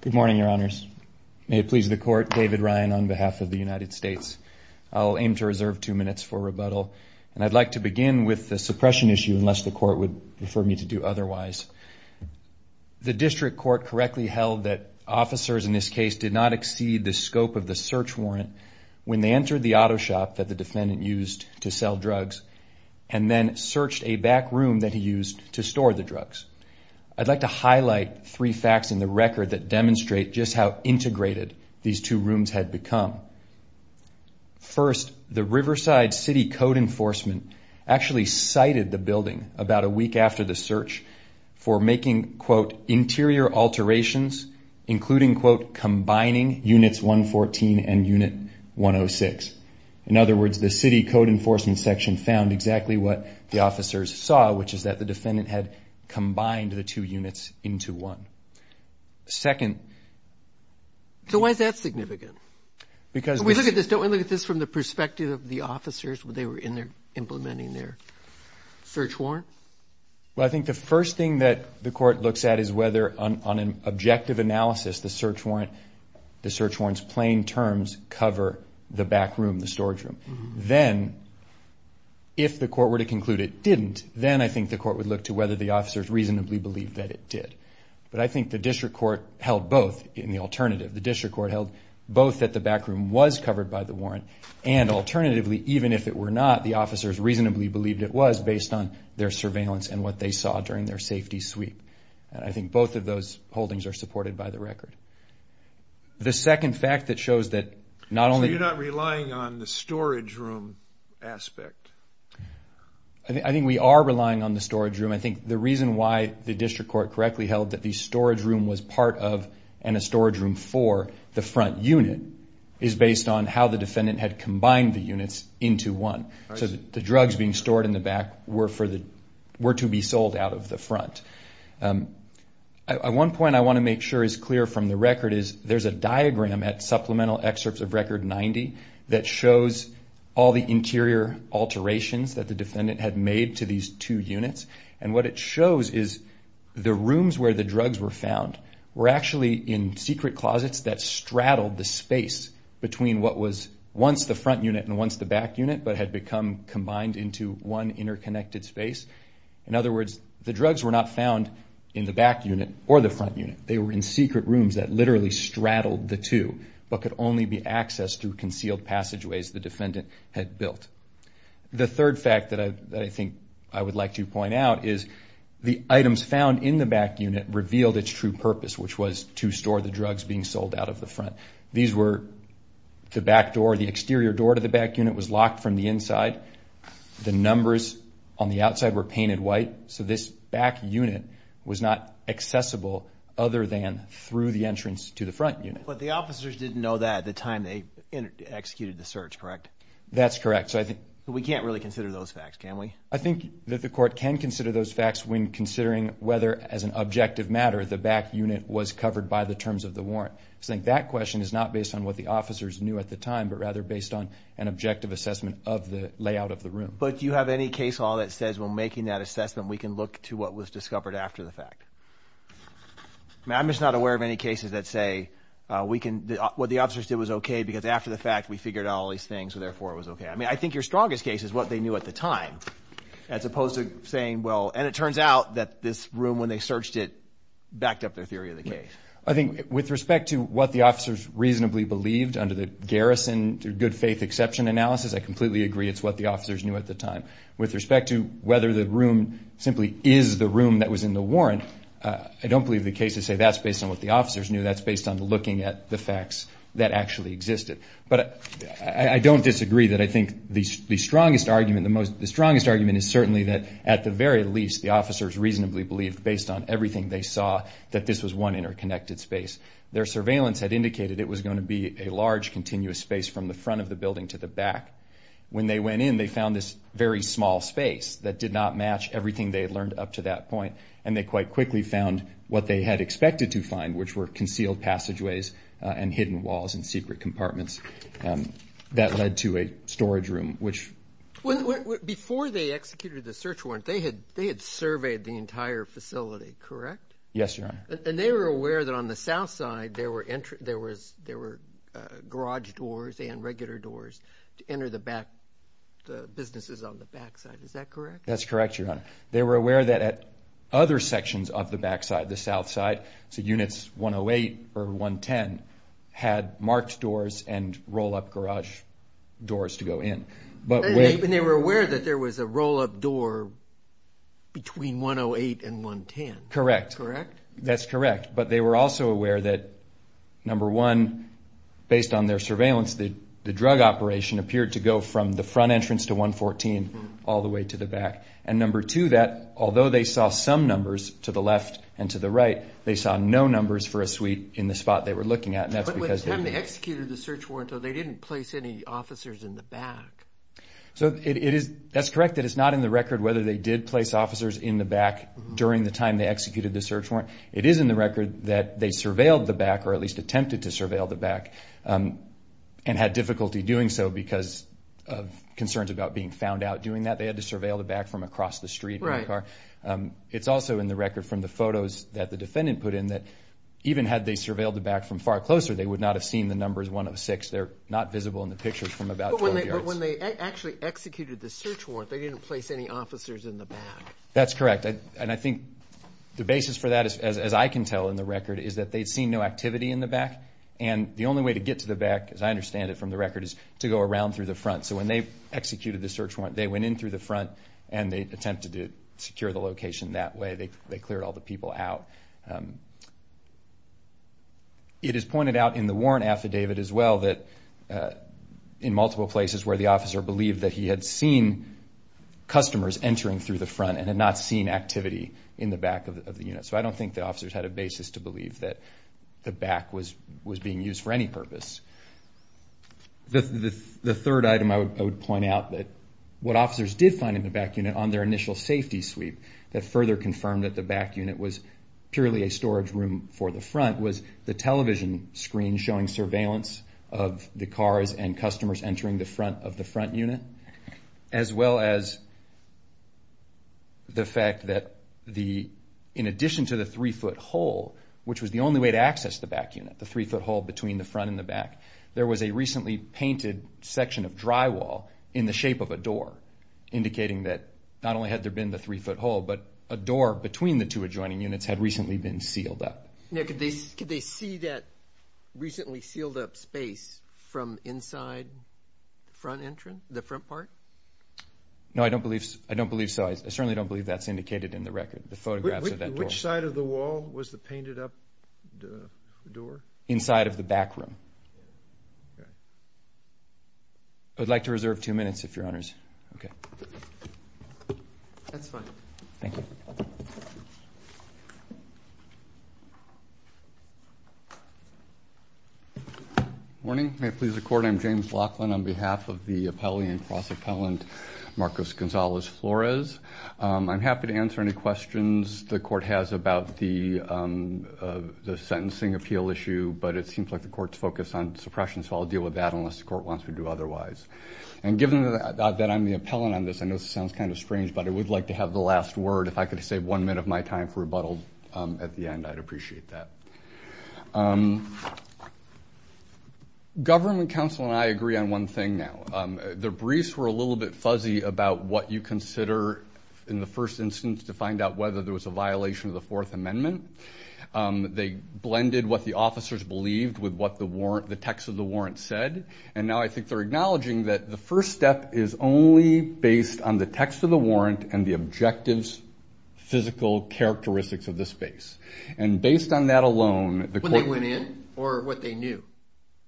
Good morning, your honors. May it please the court, David Ryan on behalf of the United States. I'll aim to reserve two minutes for rebuttal, and I'd like to begin with the suppression issue unless the court would prefer me to do otherwise. The district court correctly held that officers in this case did not exceed the scope of the search warrant when they entered the auto shop that the defendant used to sell drugs and then searched a back room that he used to store the drugs. I'd like to highlight three facts in the record that demonstrate just how integrated these two rooms had become. First, the Riverside City Code Enforcement actually cited the building about a week after the search for making, quote, interior alterations, including, quote, combining units 114 and unit 106. In other words, the City Code Enforcement section found exactly what the officers saw, which is that the defendant had combined the two units into one. Second... So why is that significant? Because... We look at this, don't we look at this from the perspective of the officers when they were in there implementing their search warrant? Well, I think the first thing that the court looks at is whether, on an objective analysis, the search warrant's plain terms cover the back room, the storage room. Then, if the court were to conclude it didn't, then I think the court would look to whether the officers reasonably believed that it did. But I think the district court held both in the alternative. Both that the back room was covered by the warrant, and alternatively, even if it were not, the officers reasonably believed it was based on their surveillance and what they saw during their safety sweep. And I think both of those holdings are supported by the record. The second fact that shows that not only... So you're not relying on the storage room aspect? I think we are relying on the storage room. I think the reason why the district court correctly held that the storage room was part of and a storage room for the front unit is based on how the defendant had combined the units into one. So the drugs being stored in the back were to be sold out of the front. At one point, I want to make sure is clear from the record is there's a diagram at supplemental excerpts of Record 90 that shows all the interior alterations that the defendant had made to these two units. And what it shows is the rooms where the drugs were found were actually in secret closets that straddled the space between what was once the front unit and once the back unit, but had become combined into one interconnected space. In other words, the drugs were not found in the back unit or the front unit. They were in secret rooms that literally straddled the two, but could only be accessed through concealed passageways the defendant had built. The third fact that I think I would like to point out is the items found in the back unit revealed its true purpose, which was to store the drugs being sold out of the front. These were the back door, the exterior door to the back unit was locked from the inside. The numbers on the outside were painted white. So this back unit was not accessible other than through the entrance to the front unit. But the officers didn't know that at the time they executed the search, correct? That's correct. We can't really consider those facts, can we? I think that the court can consider those facts when considering whether as an objective matter the back unit was covered by the terms of the warrant. I think that question is not based on what the officers knew at the time, but rather based on an objective assessment of the layout of the room. But do you have any case law that says when making that assessment we can look to what was discovered after the fact? I'm just not aware of any cases that say what the officers did was okay because after the fact we figured out all these things, so therefore it was okay. I mean, I think your strongest case is what they knew at the time as opposed to saying, well, and it turns out that this room when they searched it backed up their theory of the case. I think with respect to what the officers reasonably believed under the garrison good faith exception analysis, I completely agree it's what the officers knew at the time. With respect to whether the room simply is the room that was in the warrant, I don't believe the cases say that's based on what the officers knew. That's based on looking at the facts that actually existed. But I don't disagree that I think the strongest argument is certainly that at the very least the officers reasonably believed based on everything they saw that this was one interconnected space. Their surveillance had indicated it was going to be a large continuous space from the front of the building to the back. When they went in, they found this very small space that did not match everything they had learned up to that point. And they quite quickly found what they had expected to find, which were concealed passageways and hidden walls and secret compartments. That led to a storage room. Before they executed the search warrant, they had surveyed the entire facility, correct? Yes, Your Honor. And they were aware that on the south side there were garage doors and regular doors to enter the businesses on the back side, is that correct? That's correct, Your Honor. They were aware that at other sections of the back side, the south side, so units 108 or 110, had marked doors and roll-up garage doors to go in. And they were aware that there was a roll-up door between 108 and 110? Correct. That's correct. But they were also aware that, number one, based on their surveillance, the drug operation appeared to go from the front entrance to 114 all the way to the back. And number two, that although they saw some numbers to the left and to the right, they saw no numbers for a suite in the spot they were looking at. But by the time they executed the search warrant, though, they didn't place any officers in the back. So that's correct that it's not in the record whether they did place officers in the back during the time they executed the search warrant. It is in the record that they surveilled the back or at least attempted to surveil the back and had difficulty doing so because of concerns about being found out doing that. They had to surveil the back from across the street in the car. Right. It's also in the record from the photos that the defendant put in that even had they surveilled the back from far closer, they would not have seen the numbers one of six. But when they actually executed the search warrant, they didn't place any officers in the back. That's correct. And I think the basis for that, as I can tell in the record, is that they'd seen no activity in the back. And the only way to get to the back, as I understand it from the record, is to go around through the front. So when they executed the search warrant, they went in through the front and they attempted to secure the location that way. They cleared all the people out. It is pointed out in the warrant affidavit as well that in multiple places where the officer believed that he had seen customers entering through the front and had not seen activity in the back of the unit. So I don't think the officers had a basis to believe that the back was being used for any purpose. The third item I would point out that what officers did find in the back unit on their initial safety sweep that further confirmed that the back unit was purely a storage room for the front was the television screen showing surveillance of the cars and customers entering the front of the front unit, as well as the fact that in addition to the three-foot hole, which was the only way to access the back unit, the three-foot hole between the front and the back, there was a recently painted section of drywall in the shape of a door, indicating that not only had there been the three-foot hole, but a door between the two adjoining units had recently been sealed up. Now, could they see that recently sealed-up space from inside the front part? No, I don't believe so. I certainly don't believe that's indicated in the record, the photographs of that door. Which side of the wall was the painted-up door? Inside of the back room. I would like to reserve two minutes, if Your Honors. Okay. That's fine. Thank you. Good morning. May it please the Court, I'm James Laughlin on behalf of the appellee and cross-appellant, Marcos Gonzalez-Flores. I'm happy to answer any questions the Court has about the sentencing appeal issue, but it seems like the Court's focused on suppression, so I'll deal with that unless the Court wants me to do otherwise. And given that I'm the appellant on this, I know this sounds kind of strange, but I would like to have the last word. If I could save one minute of my time for rebuttal at the end, I'd appreciate that. Government counsel and I agree on one thing now. The briefs were a little bit fuzzy about what you consider in the first instance to find out whether there was a violation of the Fourth Amendment. They blended what the officers believed with what the text of the warrant said, and now I think they're acknowledging that the first step is only based on the text of the warrant and the objective's physical characteristics of the space. And based on that alone, the Court- When they went in or what they knew?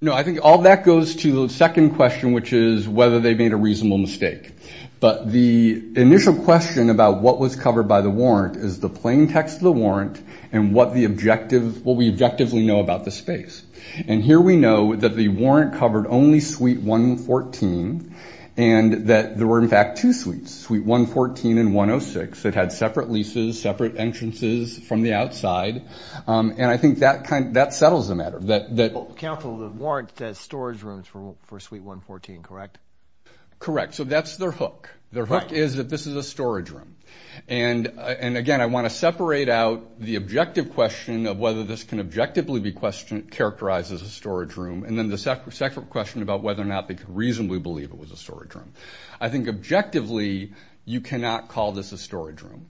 No, I think all that goes to the second question, which is whether they made a reasonable mistake. But the initial question about what was covered by the warrant is the plain text of the warrant and what we objectively know about the space. And here we know that the warrant covered only Suite 114 and that there were, in fact, two suites, Suite 114 and 106. It had separate leases, separate entrances from the outside, and I think that settles the matter. Counsel, the warrant says storage rooms for Suite 114, correct? Correct. So that's their hook. Their hook is that this is a storage room. And again, I want to separate out the objective question of whether this can objectively be characterized as a storage room and then the second question about whether or not they could reasonably believe it was a storage room. I think objectively you cannot call this a storage room.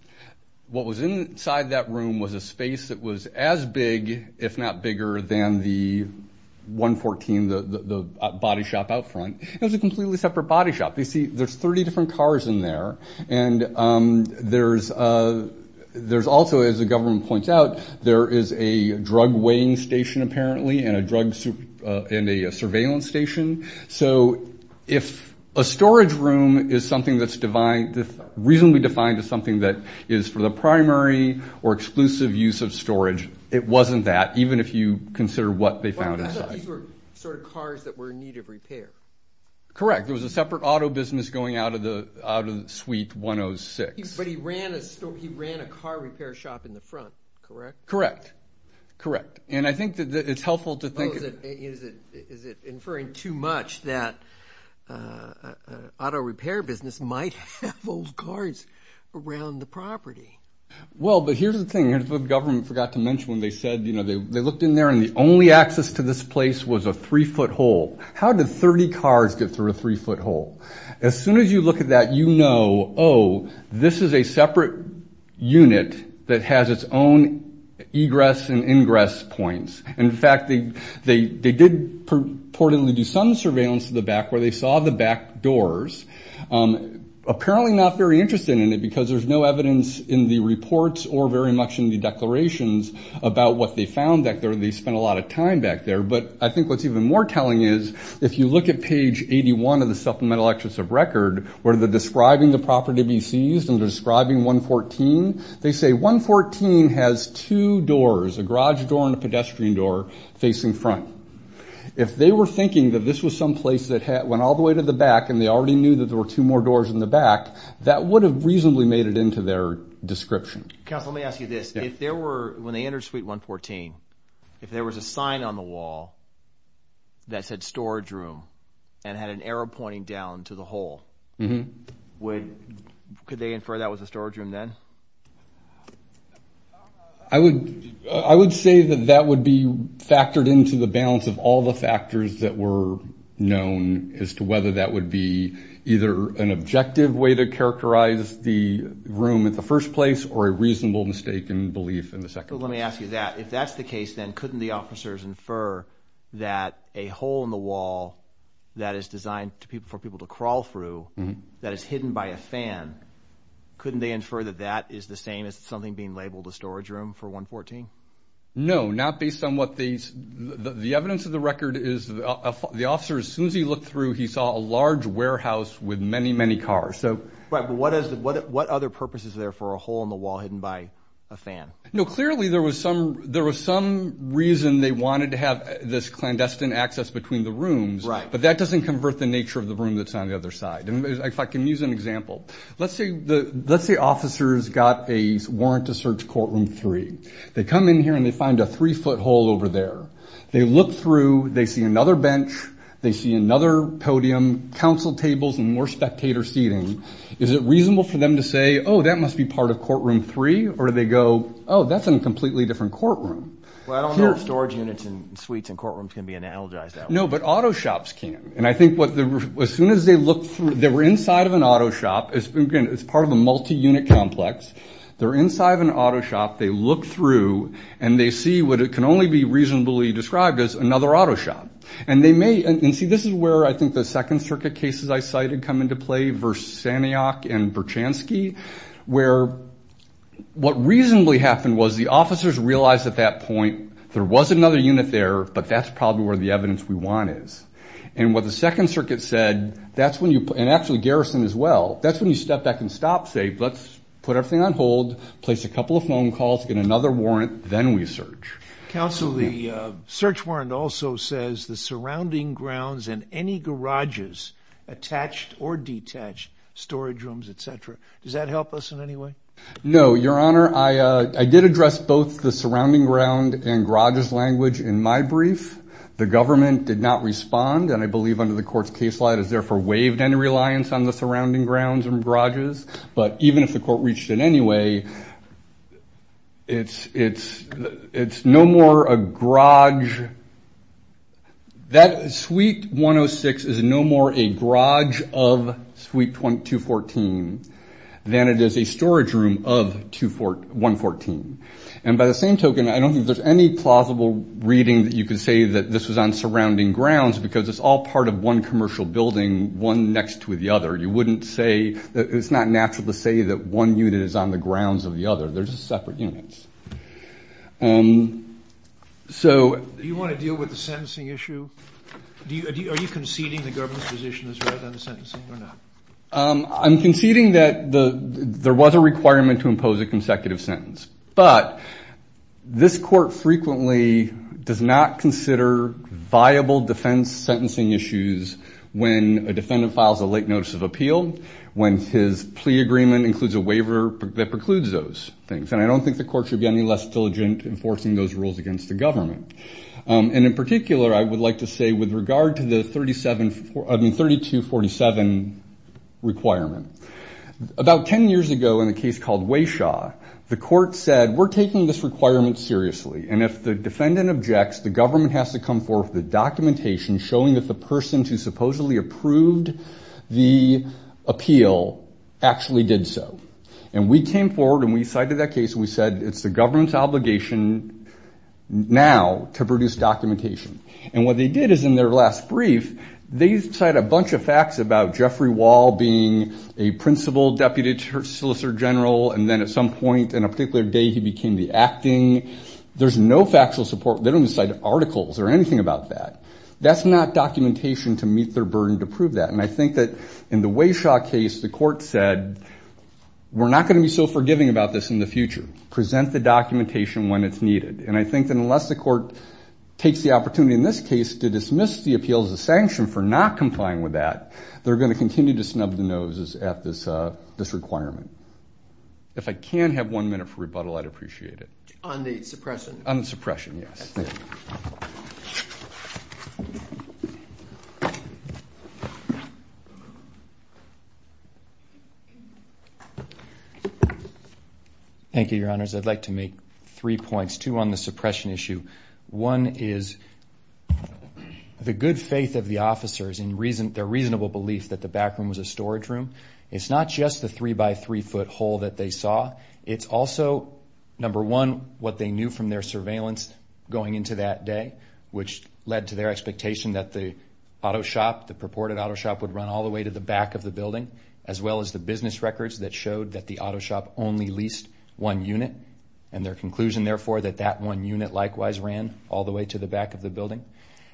What was inside that room was a space that was as big, if not bigger, than the 114, the body shop out front. It was a completely separate body shop. You see, there's 30 different cars in there, and there's also, as the government points out, there is a drug weighing station apparently and a surveillance station. So if a storage room is something that's reasonably defined as something that is for the primary or exclusive use of storage, it wasn't that, even if you consider what they found inside. I thought these were sort of cars that were in need of repair. Correct. There was a separate auto business going out of Suite 106. But he ran a car repair shop in the front, correct? Correct. Correct. And I think that it's helpful to think of it. Well, is it inferring too much that an auto repair business might have old cars around the property? Well, but here's the thing. Here's what the government forgot to mention when they said they looked in there, and the only access to this place was a three-foot hole. How did 30 cars get through a three-foot hole? As soon as you look at that, you know, oh, this is a separate unit that has its own egress and ingress points. In fact, they did purportedly do some surveillance to the back where they saw the back doors. Apparently not very interested in it because there's no evidence in the reports or very much in the declarations about what they found back there. They spent a lot of time back there. But I think what's even more telling is if you look at page 81 of the Supplemental Actions of Record, where they're describing the property to be seized and they're describing 114, they say 114 has two doors, a garage door and a pedestrian door, facing front. If they were thinking that this was some place that went all the way to the back and they already knew that there were two more doors in the back, that would have reasonably made it into their description. Counsel, let me ask you this. If there were, when they entered Suite 114, if there was a sign on the wall that said storage room and had an arrow pointing down to the hole, could they infer that was a storage room then? I would say that that would be factored into the balance of all the factors that were known as to whether that would be either an objective way to characterize the room in the first place or a reasonable mistake in belief in the second place. But let me ask you that. If that's the case then, couldn't the officers infer that a hole in the wall that is designed for people to crawl through that is hidden by a fan, couldn't they infer that that is the same as something being labeled a storage room for 114? No, not based on what they, the evidence of the record is, the officers, as soon as he looked through, he saw a large warehouse with many, many cars. Right, but what other purpose is there for a hole in the wall hidden by a fan? No, clearly there was some reason they wanted to have this clandestine access between the rooms, but that doesn't convert the nature of the room that's on the other side. If I can use an example, let's say officers got a warrant to search courtroom three. They come in here and they find a three-foot hole over there. They look through. They see another bench. They see another podium, council tables, and more spectator seating. Is it reasonable for them to say, oh, that must be part of courtroom three, or do they go, oh, that's in a completely different courtroom? Well, I don't know if storage units and suites and courtrooms can be analogized that way. No, but auto shops can. And I think as soon as they look through, they were inside of an auto shop. Again, it's part of a multi-unit complex. They're inside of an auto shop. They look through, and they see what can only be reasonably described as another auto shop. And see, this is where I think the Second Circuit cases I cited come into play, versus Saniok and Berchanski, where what reasonably happened was the officers realized at that point there was another unit there, but that's probably where the evidence we want is. And what the Second Circuit said, and actually Garrison as well, that's when you step back and stop, say, let's put everything on hold, place a couple of phone calls, get another warrant, then we search. Counsel, the search warrant also says the surrounding grounds and any garages attached or detached, storage rooms, et cetera. Does that help us in any way? No, Your Honor. I did address both the surrounding ground and garages language in my brief. The government did not respond, and I believe under the court's case law, it has therefore waived any reliance on the surrounding grounds and garages. But even if the court reached it anyway, it's no more a garage. That suite 106 is no more a garage of suite 214 than it is a storage room of 214. And by the same token, I don't think there's any plausible reading that you could say that this was on surrounding grounds because it's all part of one commercial building, one next to the other. It's not natural to say that one unit is on the grounds of the other. They're just separate units. Do you want to deal with the sentencing issue? Are you conceding the government's position is right on the sentencing or not? I'm conceding that there was a requirement to impose a consecutive sentence. But this court frequently does not consider viable defense sentencing issues when a defendant files a late notice of appeal, when his plea agreement includes a waiver that precludes those things. And I don't think the court should be any less diligent enforcing those rules against the government. And in particular, I would like to say with regard to the 3247 requirement, about 10 years ago in a case called Wayshaw, the court said, we're taking this requirement seriously, and if the defendant objects, the government has to come forward with the documentation showing that the person who supposedly approved the appeal actually did so. And we came forward and we cited that case and we said, it's the government's obligation now to produce documentation. And what they did is in their last brief, they cite a bunch of facts about Jeffrey Wall being a principal deputy solicitor general, and then at some point in a particular day he became the acting. There's no factual support. They don't cite articles or anything about that. That's not documentation to meet their burden to prove that. And I think that in the Wayshaw case, the court said, we're not going to be so forgiving about this in the future. Present the documentation when it's needed. And I think that unless the court takes the opportunity in this case to dismiss the appeal as a sanction for not complying with that, they're going to continue to snub the noses at this requirement. If I can have one minute for rebuttal, I'd appreciate it. On the suppression? On the suppression, yes. Thank you, Your Honors. I'd like to make three points, two on the suppression issue. One is the good faith of the officers in their reasonable belief that the back room was a storage room. It's not just the three-by-three-foot hole that they saw. It's also, number one, what they knew from their surveillance going into that day, which led to their expectation that the auto shop, the purported auto shop, would run all the way to the back of the building, as well as the business records that showed that the auto shop only leased one unit, and their conclusion, therefore, that that one unit likewise ran all the way to the back of the building.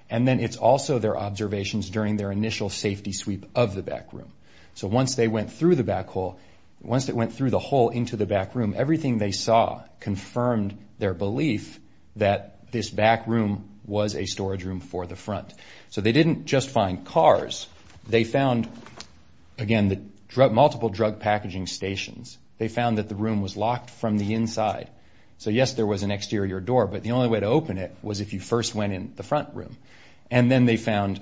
And then it's also their observations during their initial safety sweep of the back room. So once they went through the back hole, once they went through the hole into the back room, everything they saw confirmed their belief that this back room was a storage room for the front. So they didn't just find cars. They found, again, multiple drug packaging stations. They found that the room was locked from the inside. So, yes, there was an exterior door, but the only way to open it was if you first went in the front room. And then they found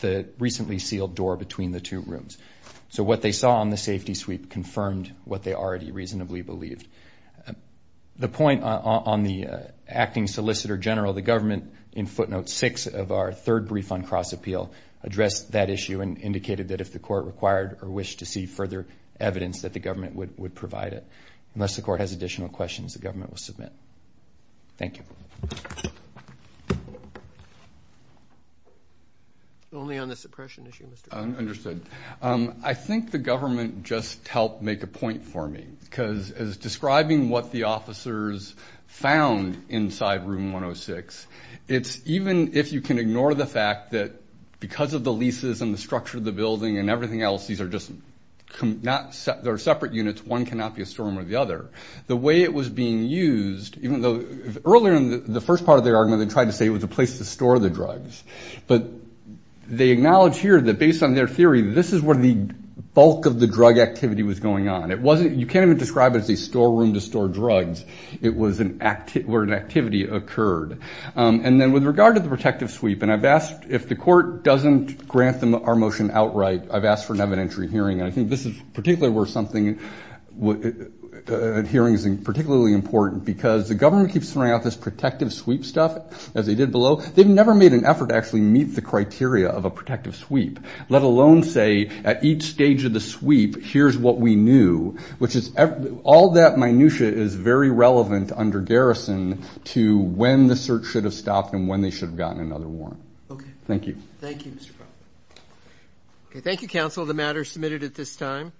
the recently sealed door between the two rooms. So what they saw on the safety sweep confirmed what they already reasonably believed. The point on the acting solicitor general, the government, in footnote six of our third brief on cross-appeal, addressed that issue and indicated that if the court required or wished to see further evidence, that the government would provide it. Unless the court has additional questions, the government will submit. Thank you. Only on the suppression issue. Understood. I think the government just helped make a point for me because as describing what the officers found inside room 106, it's even if you can ignore the fact that because of the leases and the structure of the building and everything else, these are just separate units. One cannot be a storeroom or the other. The way it was being used, even though earlier in the first part of their argument, they tried to say it was a place to store the drugs. But they acknowledge here that based on their theory, this is where the bulk of the drug activity was going on. You can't even describe it as a storeroom to store drugs. It was where an activity occurred. And then with regard to the protective sweep, and I've asked if the court doesn't grant our motion outright, I've asked for an evidentiary hearing. And I think this is particularly where hearings are particularly important because the government keeps throwing out this protective sweep stuff, as they did below. They've never made an effort to actually meet the criteria of a protective sweep, let alone say at each stage of the sweep, here's what we knew, which is all that minutiae is very relevant under garrison to when the search should have stopped and when they should have gotten another warrant. Okay. Thank you. Thank you, Mr. Brown. Okay. Thank you, counsel. The matter is submitted at this time.